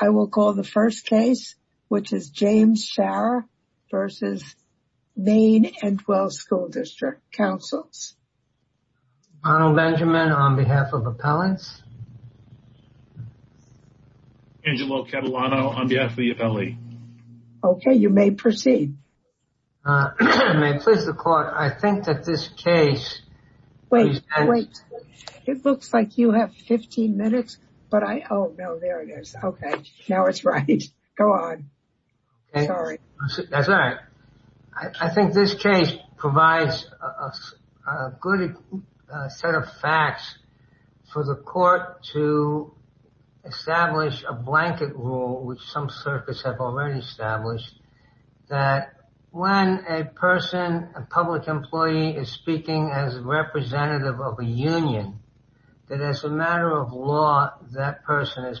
I will call the first case, which is James Shara v. Maine-Endwell School District Councils. Arnold Benjamin on behalf of Appellants. Angelo Catalano on behalf of the Appellee. Okay, you may proceed. May it please the Court, I think that this case... Wait, wait. It looks like you have 15 minutes, but I... Oh, no, there it is. Okay, now it's right. Go on. Sorry. That's all right. I think this case provides a good set of facts for the Court to establish a blanket rule, which some circuits have already established, that when a person, a public employee, is speaking as a representative of a union, that as a matter of law, that person is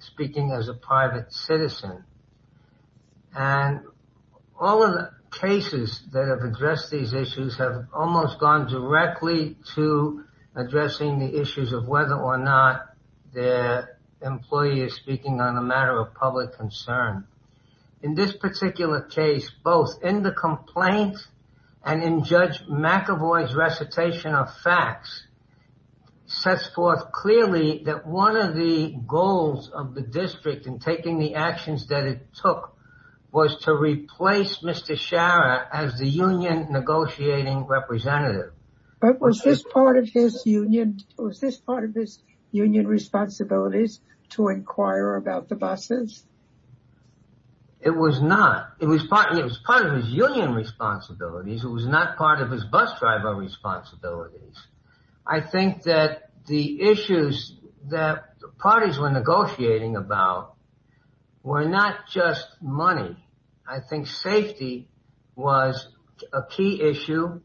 speaking as a private citizen. And all of the cases that have addressed these issues have almost gone directly to addressing the issues of whether or not the employee is speaking on a matter of public concern. In this particular case, both in the complaint and in Judge McAvoy's recitation of facts, sets forth clearly that one of the goals of the district in taking the actions that it took was to replace Mr. Shara as the union negotiating representative. But was this part of his union responsibilities to inquire about the buses? It was not. It was part of his union responsibilities. It was not part of his bus driver responsibilities. I think that the issues that the parties were negotiating about were not just money. I think safety was a key issue.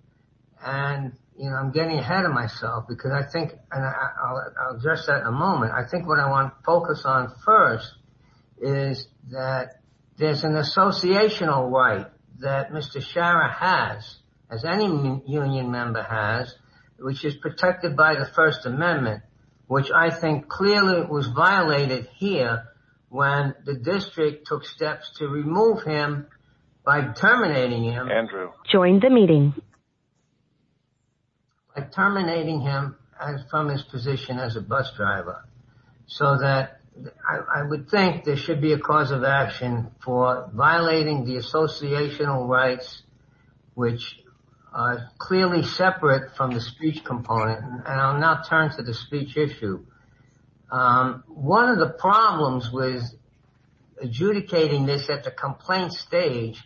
And, you know, I'm getting ahead of myself because I think, and I'll address that in a moment, I think what I want to focus on first is that there's an associational right that Mr. Shara has, as any union member has, which is protected by the First Amendment, which I think clearly was violated here when the district took steps to remove him by terminating him. Andrew. Join the meeting. By terminating him from his position as a bus driver so that I would think there should be a cause of action for violating the associational rights, which are clearly separate from the speech component, and I'll now turn to the speech issue. One of the problems with adjudicating this at the complaint stage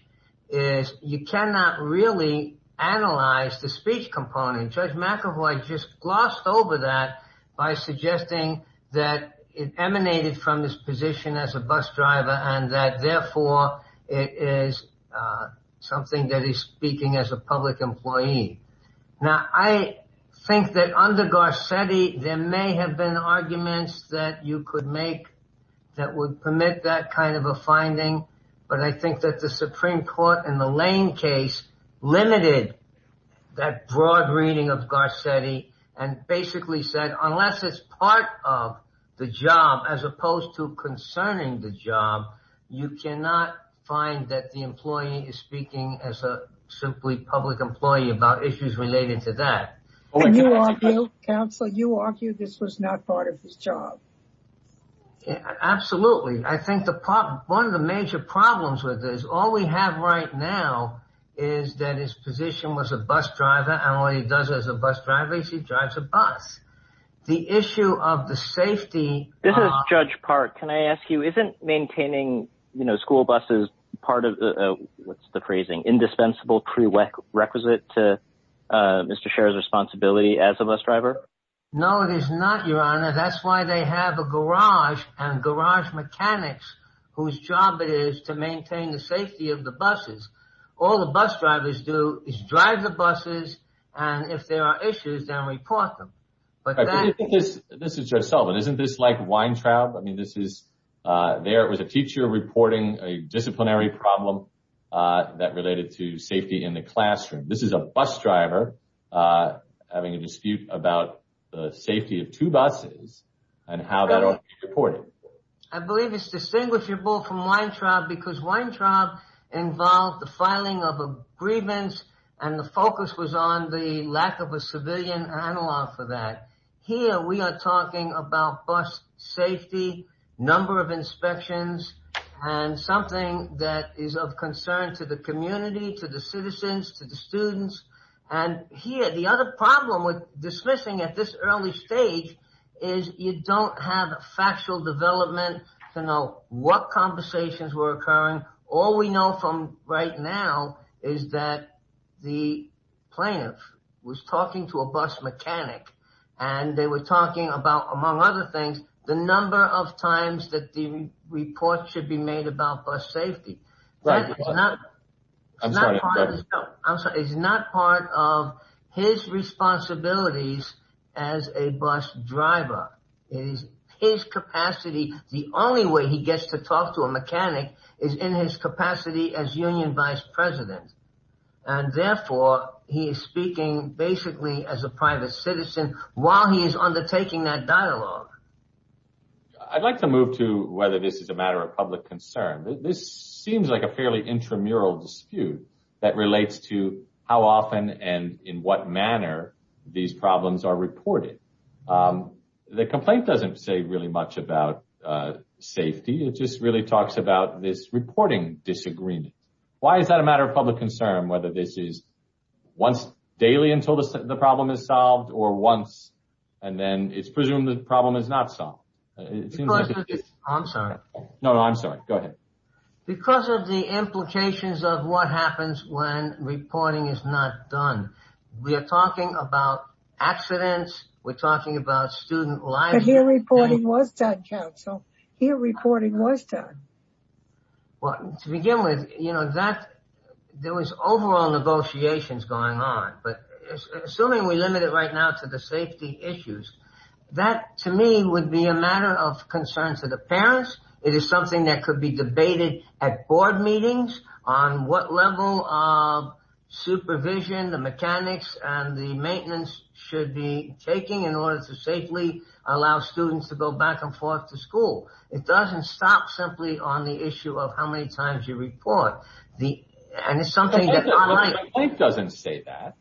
is you cannot really analyze the speech component. Judge McEvoy just glossed over that by suggesting that it emanated from his position as a bus driver and that therefore it is something that is speaking as a public employee. Now, I think that under Garcetti there may have been arguments that you could make that would permit that kind of a finding, but I think that the Supreme Court in the Lane case limited that broad reading of Garcetti and basically said unless it's part of the job as opposed to concerning the job, you cannot find that the employee is speaking as a public employee about issues related to that. Counselor, you argue this was not part of his job. Absolutely. I think one of the major problems with this, all we have right now is that his position was a bus driver and all he does as a bus driver is he drives a bus. The issue of the safety. This is Judge Park. Can I ask you, isn't maintaining school buses part of the, what's the phrasing, indispensable prerequisite to Mr. Scherr's responsibility as a bus driver? No, it is not, Your Honor. That's why they have a garage and garage mechanics whose job it is to maintain the safety of the buses. All the bus drivers do is drive the buses and if there are issues, then report them. This is Judge Sullivan. Isn't this like Weintraub? I mean, this is, there was a teacher reporting a disciplinary problem that related to safety in the classroom. This is a bus driver having a dispute about the safety of two buses and how that ought to be reported. I believe it's distinguishable from Weintraub because Weintraub involved the filing of agreements and the focus was on the lack of a civilian analog for that. Here we are talking about bus safety, number of inspections, and something that is of concern to the community, to the citizens, to the students. And here, the other problem with dismissing at this early stage is you don't have a factual development to know what conversations were occurring. All we know from right now is that the plaintiff was talking to a bus mechanic and they were talking about, among other things, the number of times that the report should be made about bus safety. It's not part of his responsibilities as a bus driver. It is his capacity. The only way he gets to talk to a mechanic is in his capacity as union vice president. And therefore, he is speaking basically as a private citizen while he is undertaking that dialogue. I'd like to move to whether this is a matter of public concern. This seems like a fairly intramural dispute that relates to how often and in what manner these problems are reported. The complaint doesn't say really much about safety. It just really talks about this reporting disagreement. Why is that a matter of public concern, whether this is once daily until the problem is solved or once and then it's presumed the problem is not solved? I'm sorry. No, no, I'm sorry. Go ahead. Because of the implications of what happens when reporting is not done. We are talking about accidents. We're talking about student lives. But here reporting was done, counsel. Here reporting was done. Well, to begin with, you know, that there was overall negotiations going on. But assuming we limit it right now to the safety issues, that to me would be a matter of concern to the parents. It is something that could be debated at board meetings on what level of supervision the mechanics and the maintenance should be taking in order to safely allow students to go back and forth to school. It doesn't stop simply on the issue of how many times you report the and it's something that I think doesn't say that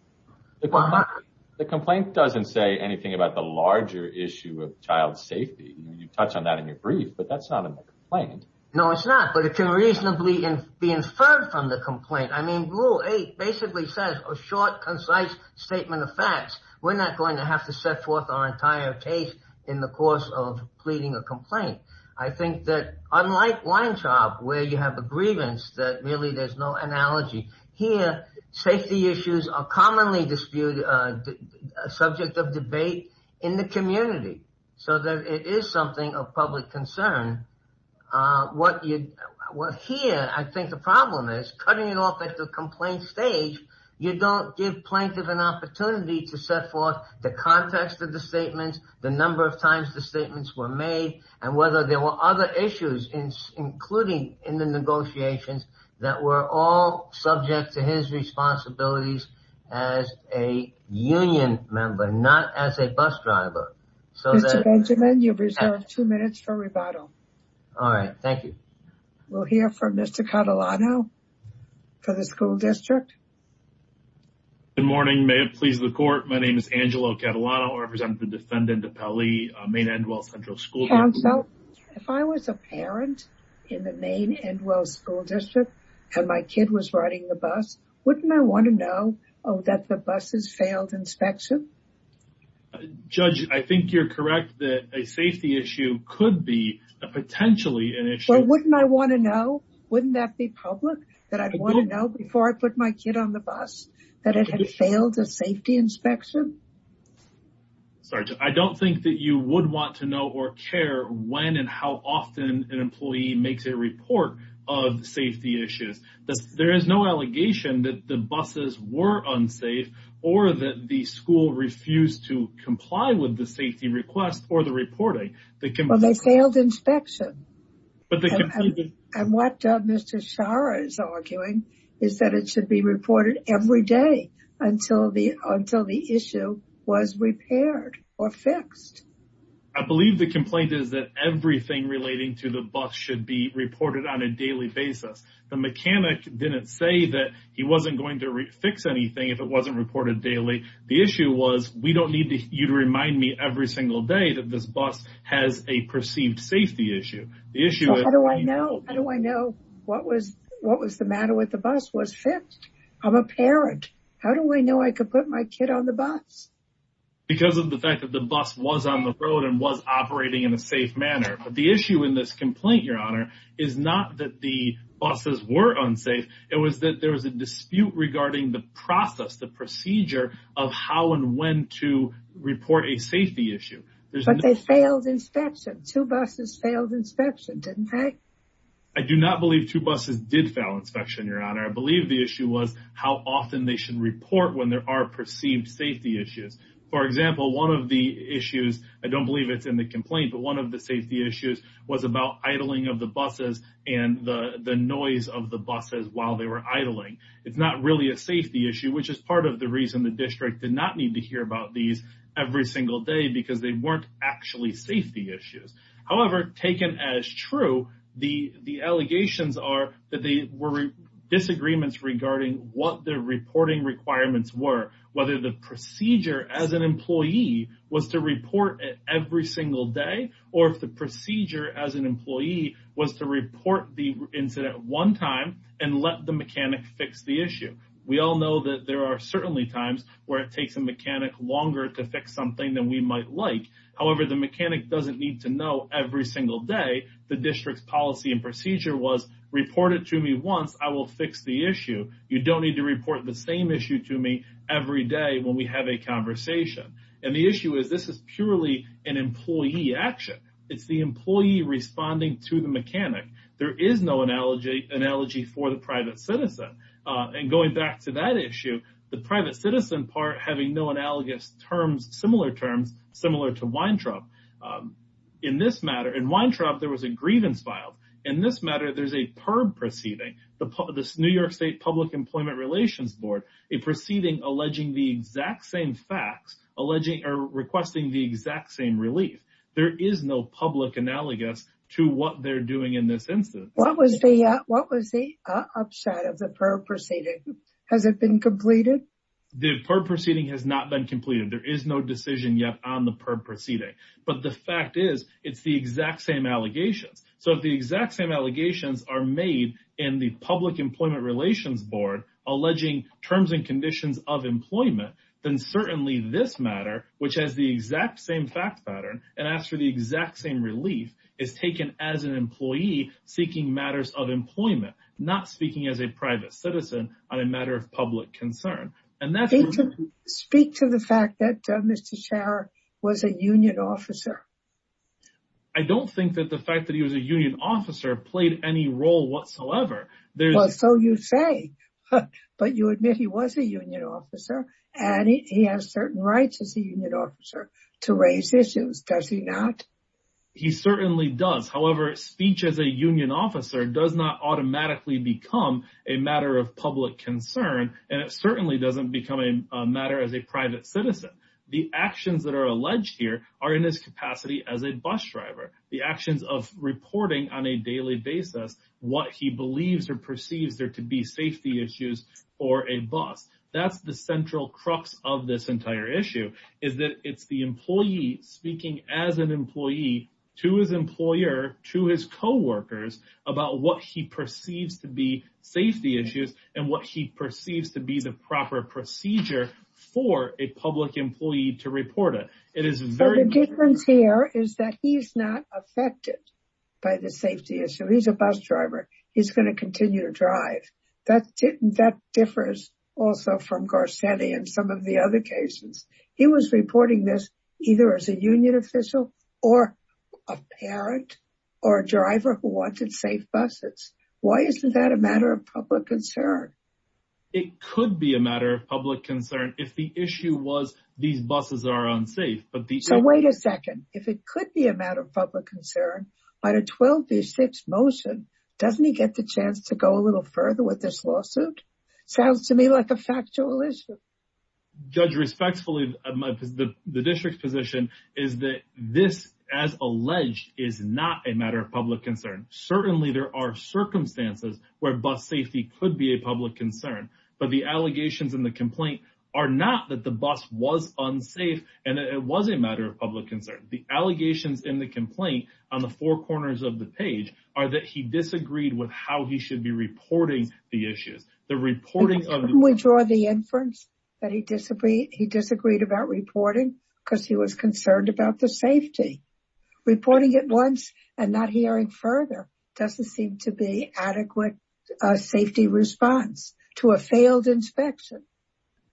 the complaint doesn't say anything about the larger issue of child safety. You touch on that in your brief, but that's not a complaint. No, it's not. But it can reasonably be inferred from the complaint. I mean, rule eight basically says a short, concise statement of facts. We're not going to have to set forth our entire case in the course of pleading a complaint. I think that unlike Weintraub, where you have the grievance that really there's no analogy here, safety issues are commonly disputed, subject of debate in the community so that it is something of public concern. What here I think the problem is cutting it off at the complaint stage, you don't give plaintiff an opportunity to set forth the context of the statement, the number of times the statements were made, and whether there were other issues including in the negotiations that were all subject to his responsibilities as a union member, not as a bus driver. Mr. Benjamin, you have reserved two minutes for rebuttal. All right. Thank you. We'll hear from Mr. Catalano for the school district. Good morning. May it please the court. My name is Angelo Catalano. I represent the defendant of Pele, Maine-Endwell Central School District. Counsel, if I was a parent in the Maine-Endwell School District and my kid was riding the bus, wouldn't I want to know that the bus has failed inspection? Judge, I think you're correct that a safety issue could be potentially an issue. Well, wouldn't I want to know? Wouldn't that be public that I'd want to know before I put my kid on the bus that it had failed a safety inspection? Sergeant, I don't think that you would want to know or care when and how often an employee makes a report of safety issues. There is no allegation that the buses were unsafe or that the school refused to comply with the safety request or the reporting. They failed inspection. And what Mr. Schara is arguing is that it should be reported every day until the issue was repaired or fixed. I believe the complaint is that everything relating to the bus should be reported on a daily basis. The mechanic didn't say that he wasn't going to fix anything if it wasn't reported daily. The issue was, we don't need you to remind me every single day that this bus has a perceived safety issue. How do I know what was the matter with the bus was fixed? I'm a parent. How do I know I could put my kid on the bus? Because of the fact that the bus was on the road and was operating in a safe manner. The issue in this complaint, Your Honor, is not that the buses were unsafe. It was that there was a dispute regarding the process, the procedure of how and when to report a safety issue. Two buses failed inspection, didn't they? I do not believe two buses did fail inspection, Your Honor. I believe the issue was how often they should report when there are perceived safety issues. For example, one of the issues, I don't believe it's in the complaint, but one of the safety issues was about idling of the buses and the noise of the buses while they were idling. It's not really a safety issue, which is part of the reason the district did not need to hear about these every single day because they weren't actually safety issues. However, taken as true, the allegations are that there were disagreements regarding what their reporting requirements were, whether the procedure as an employee was to report every single day or if the procedure as an employee was to report the incident one time and let the mechanic fix the issue. We all know that there are certainly times where it takes a mechanic longer to fix something than we might like. However, the mechanic doesn't need to know every single day the district's policy and procedure was reported to me once, I will fix the issue. You don't need to report the same issue to me every day when we have a conversation. The issue is this is purely an employee action. It's the employee responding to the mechanic. There is no analogy for the private citizen. Going back to that issue, the private citizen part having no analogous terms, similar terms, similar to Weintraub. In Weintraub, there was a grievance filed. In this matter, there's a PERB proceeding, the New York State Public Employment Relations a proceeding alleging the exact same facts, requesting the exact same relief. There is no public analogous to what they're doing in this instance. What was the upshot of the PERB proceeding? Has it been completed? The PERB proceeding has not been completed. There is no decision yet on the PERB proceeding. But the fact is, it's the exact same allegations. So if the exact same allegations are made in the Public Employment Relations Board alleging terms and conditions of employment, then certainly this matter, which has the exact same fact pattern and asks for the exact same relief, is taken as an employee seeking matters of employment, not speaking as a private citizen on a matter of public concern. Speak to the fact that Mr. Schauer was a union officer. I don't think that the fact that he was a union officer played any role whatsoever. So you say, but you admit he was a union officer and he has certain rights as a union officer to raise issues, does he not? He certainly does. However, speech as a union officer does not automatically become a matter of public concern and it certainly doesn't become a matter as a private citizen. The actions that are alleged here are in his capacity as a bus driver. The actions of reporting on a daily basis what he believes or perceives there to be safety issues for a bus. That's the central crux of this entire issue, is that it's the employee speaking as an employee to his employer, to his co-workers, about what he perceives to be safety issues and what he perceives to be the proper procedure for a public employee to report it. The difference here is that he's not affected by the safety issue. He's a bus driver. He's going to continue to drive. That differs also from Garcetti and some of the other cases. He was reporting this either as a union official or a parent or a driver who wanted safe buses. Why isn't that a matter of public concern? It could be a matter of public concern if the issue was these buses are unsafe. Wait a second. If it could be a matter of public concern by the 12-6 motion, doesn't he get the chance to go a little further with this lawsuit? Sounds to me like a factual issue. Judge, respectfully, the district's position is that this, as alleged, is not a matter of public concern. Certainly, there are circumstances where bus safety could be a public concern, but the allegations in the complaint are not that the bus was unsafe and that it was a matter of public concern. The allegations in the complaint on the four corners of the page are that he disagreed with how he should be reporting the issues. We draw the inference that he disagreed about reporting because he was concerned about the doesn't seem to be adequate safety response to a failed inspection.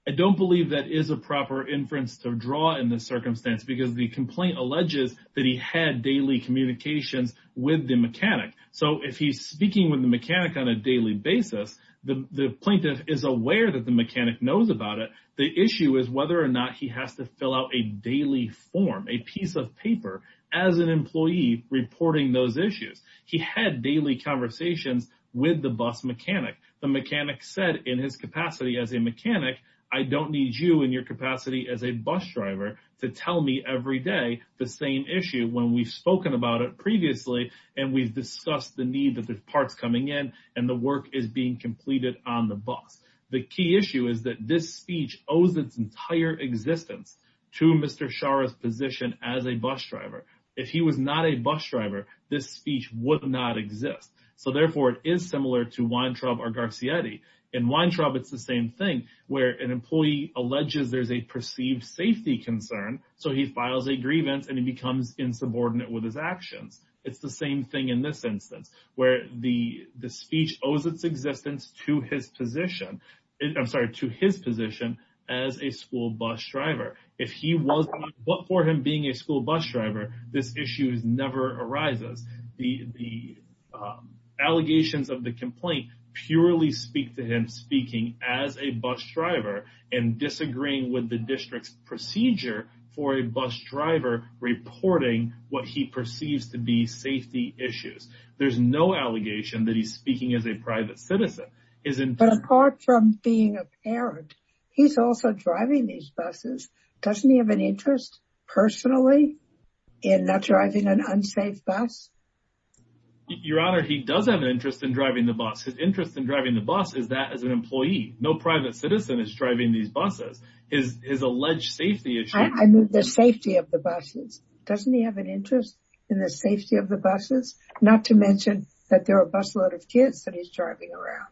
I don't believe that is a proper inference to draw in this circumstance because the complaint alleges that he had daily communications with the mechanic. So if he's speaking with the mechanic on a daily basis, the plaintiff is aware that the mechanic knows about it. The issue is whether or not he has to fill out a daily form, a piece of paper as an employee reporting those issues. He had daily conversations with the bus mechanic. The mechanic said in his capacity as a mechanic, I don't need you in your capacity as a bus driver to tell me every day the same issue when we've spoken about it previously and we've discussed the need that there's parts coming in and the work is being completed on the bus. The key issue is that this speech owes its entire existence to Mr. Shara's position as a bus driver. If he was not a bus driver, this speech would not exist. So therefore, it is similar to Weintraub or Garcietti. In Weintraub, it's the same thing where an employee alleges there's a perceived safety concern. So he files a grievance and he becomes insubordinate with his actions. It's the same thing in this instance where the speech owes its existence to his position. I'm sorry, to his position as a school bus driver. If he wasn't, but for him being a school bus driver, this issue never arises. The allegations of the complaint purely speak to him speaking as a bus driver and disagreeing with the district's procedure for a bus driver reporting what he perceives to be safety issues. There's no allegation that he's speaking as a private citizen. But apart from being a parent, he's also driving these buses. Doesn't he have an interest personally in not driving an unsafe bus? Your Honor, he does have an interest in driving the bus. His interest in driving the bus is that as an employee. No private citizen is driving these buses. His alleged safety issue... I mean the safety of the buses. Doesn't he have an interest in the safety of the buses? Not to mention that there are busload of kids that he's driving around.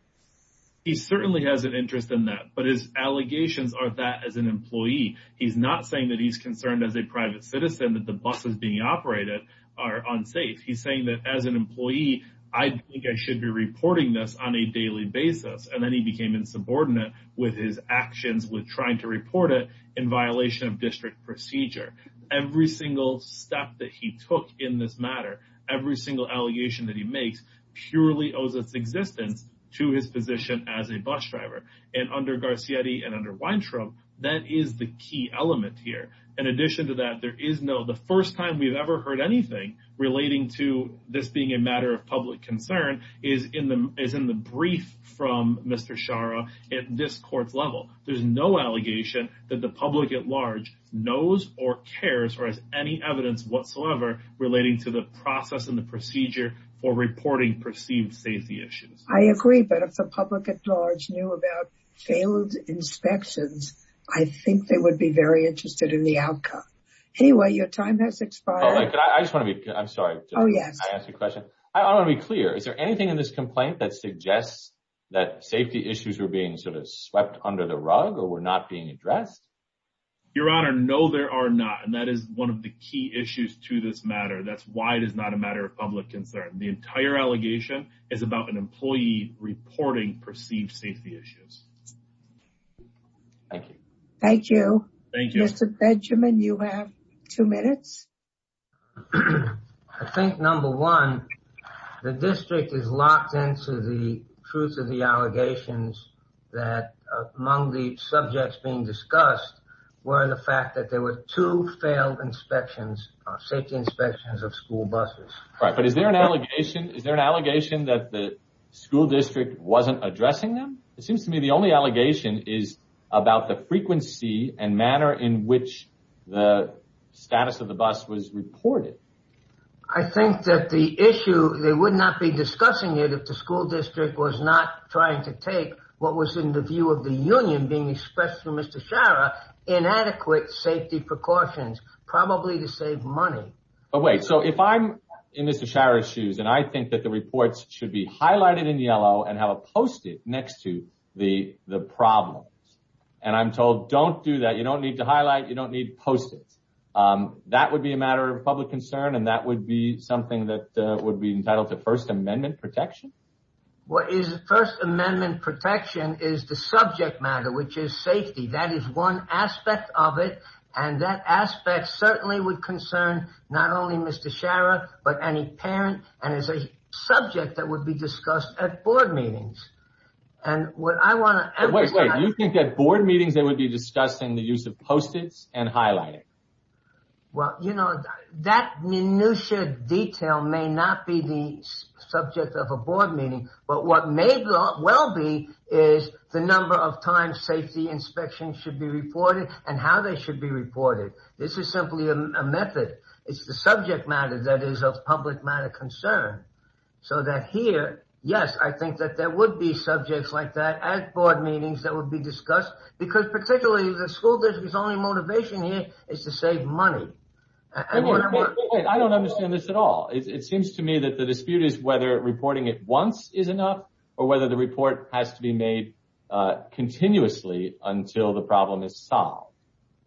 He certainly has an interest in that. But his allegations are that as an employee. He's not saying that he's concerned as a private citizen that the buses being operated are unsafe. He's saying that as an employee, I think I should be reporting this on a daily basis. And then he became insubordinate with his actions with trying to report it in violation of district procedure. Every single step that he took in this matter, every single allegation that he makes, purely owes its existence to his position as a bus driver. And under Garcietti and under Weintraub, that is the key element here. In addition to that, there is no... The first time we've ever heard anything relating to this being a matter of public concern is in the brief from Mr. Shara at this court's level. There's no allegation that the public at large knows or cares or has any evidence whatsoever relating to the process and the procedure for reporting perceived safety issues. I agree. But if the public at large knew about failed inspections, I think they would be very interested in the outcome. Anyway, your time has expired. I just want to be... I'm sorry to ask you a question. I want to be clear. Is there anything in this complaint that suggests that safety issues were being sort of swept under the rug or were not being addressed? Your Honor, no, there are not. That is one of the key issues to this matter. That's why it is not a matter of public concern. The entire allegation is about an employee reporting perceived safety issues. Thank you. Thank you. Mr. Benjamin, you have two minutes. I think, number one, the district is locked into the truth of the allegations that among the subjects being discussed were the fact that there were two failed inspections, safety inspections of school buses. Right, but is there an allegation... Is there an allegation that the school district wasn't addressing them? It seems to me the only allegation is about the frequency and manner in which the status of the bus was reported. I think that the issue, they would not be discussing it if the school district was not trying to take what was in the view of the union being expressed through Mr. Scharra, inadequate safety precautions, probably to save money. But wait, so if I'm in Mr. Scharra's shoes and I think that the reports should be highlighted in yellow and have a post-it next to the problems, and I'm told, don't do that, you don't need to highlight, you don't need post-its, that would be a matter of public concern and that would be something that would be entitled to First Amendment protection? What is First Amendment protection is the subject matter, which is safety. That is one aspect of it and that aspect certainly would concern not only Mr. Scharra, but any parent and is a subject that would be discussed at board meetings. And what I want to... Wait, wait, you think at board meetings they would be discussing the use of post-its and highlighting? Well, you know, that minutiae detail may not be the subject of a board meeting, but what may well be is the number of times safety inspections should be reported and how they should be reported. This is simply a method. It's the subject matter that is of public matter concern. So that here, yes, I think that there would be subjects like that at board meetings that would be discussed because particularly the school district's only motivation here is to save money. I don't understand this at all. It seems to me that the dispute is whether reporting it once is enough or whether the report has to be made continuously until the problem is solved.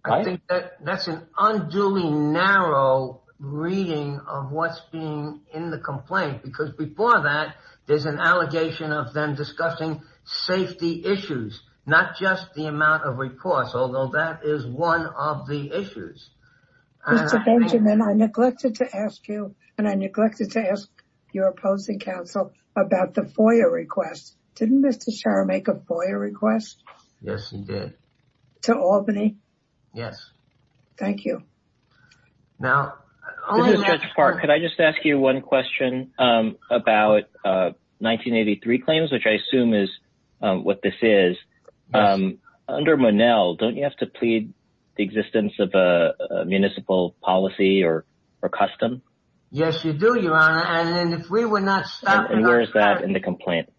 I think that that's an unduly narrow reading of what's being in the complaint because before that there's an allegation of them discussing safety issues, not just the amount of reports, although that is one of the issues. Mr. Benjamin, I neglected to ask you and I neglected to ask your opposing counsel about the FOIA request. Didn't Mr. Sharma make a FOIA request? Yes, he did. To Albany? Yes. Thank you. Now- This is Judge Park. Could I just ask you one question about 1983 claims, which I assume is what this is. Under Monell, don't you have to plead the existence of a municipal policy or custom? Yes, you do, Your Honor. And then if we would not stop- And where is that in the complaint?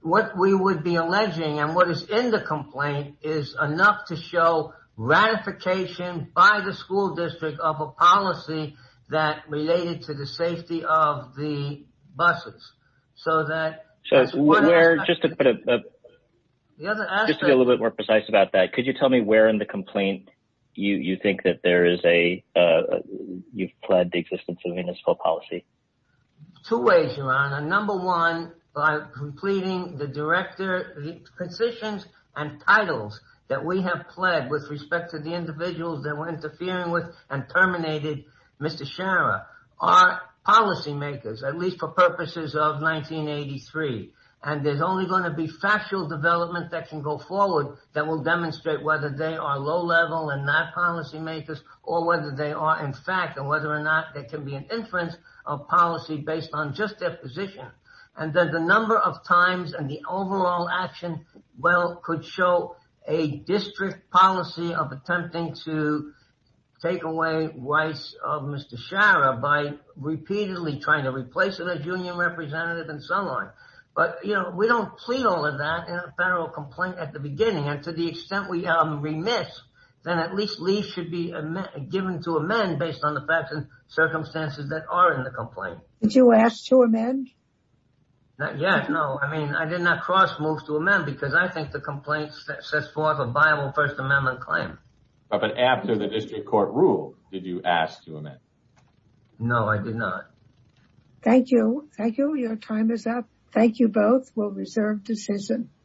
What we would be alleging and what is in the complaint is enough to show ratification by the school district of a policy that related to the safety of the buses. So that- Just to be a little bit more precise about that, could you tell me where in the complaint you think that there is a- municipal policy? Two ways, Your Honor. Number one, by pleading the director- positions and titles that we have pled with respect to the individuals that we're interfering with and terminated Mr. Sharma are policymakers, at least for purposes of 1983. And there's only going to be factual development that can go forward that will demonstrate whether they are low level and not policymakers or whether they are in fact and whether or not there can be an inference of policy based on just their position. And then the number of times and the overall action, well, could show a district policy of attempting to take away rights of Mr. Sharma by repeatedly trying to replace it as union representative and so on. But, you know, we don't plead all of that in a federal complaint at the beginning. And to the extent we remiss, then at least leave should be given to amend based on the facts and circumstances that are in the complaint. Did you ask to amend? Yes. No, I mean, I did not cross move to amend because I think the complaint sets forth a viable First Amendment claim. But after the district court ruled, did you ask to amend? No, I did not. Thank you. Thank you. Your time is up. Thank you both. We'll reserve decision.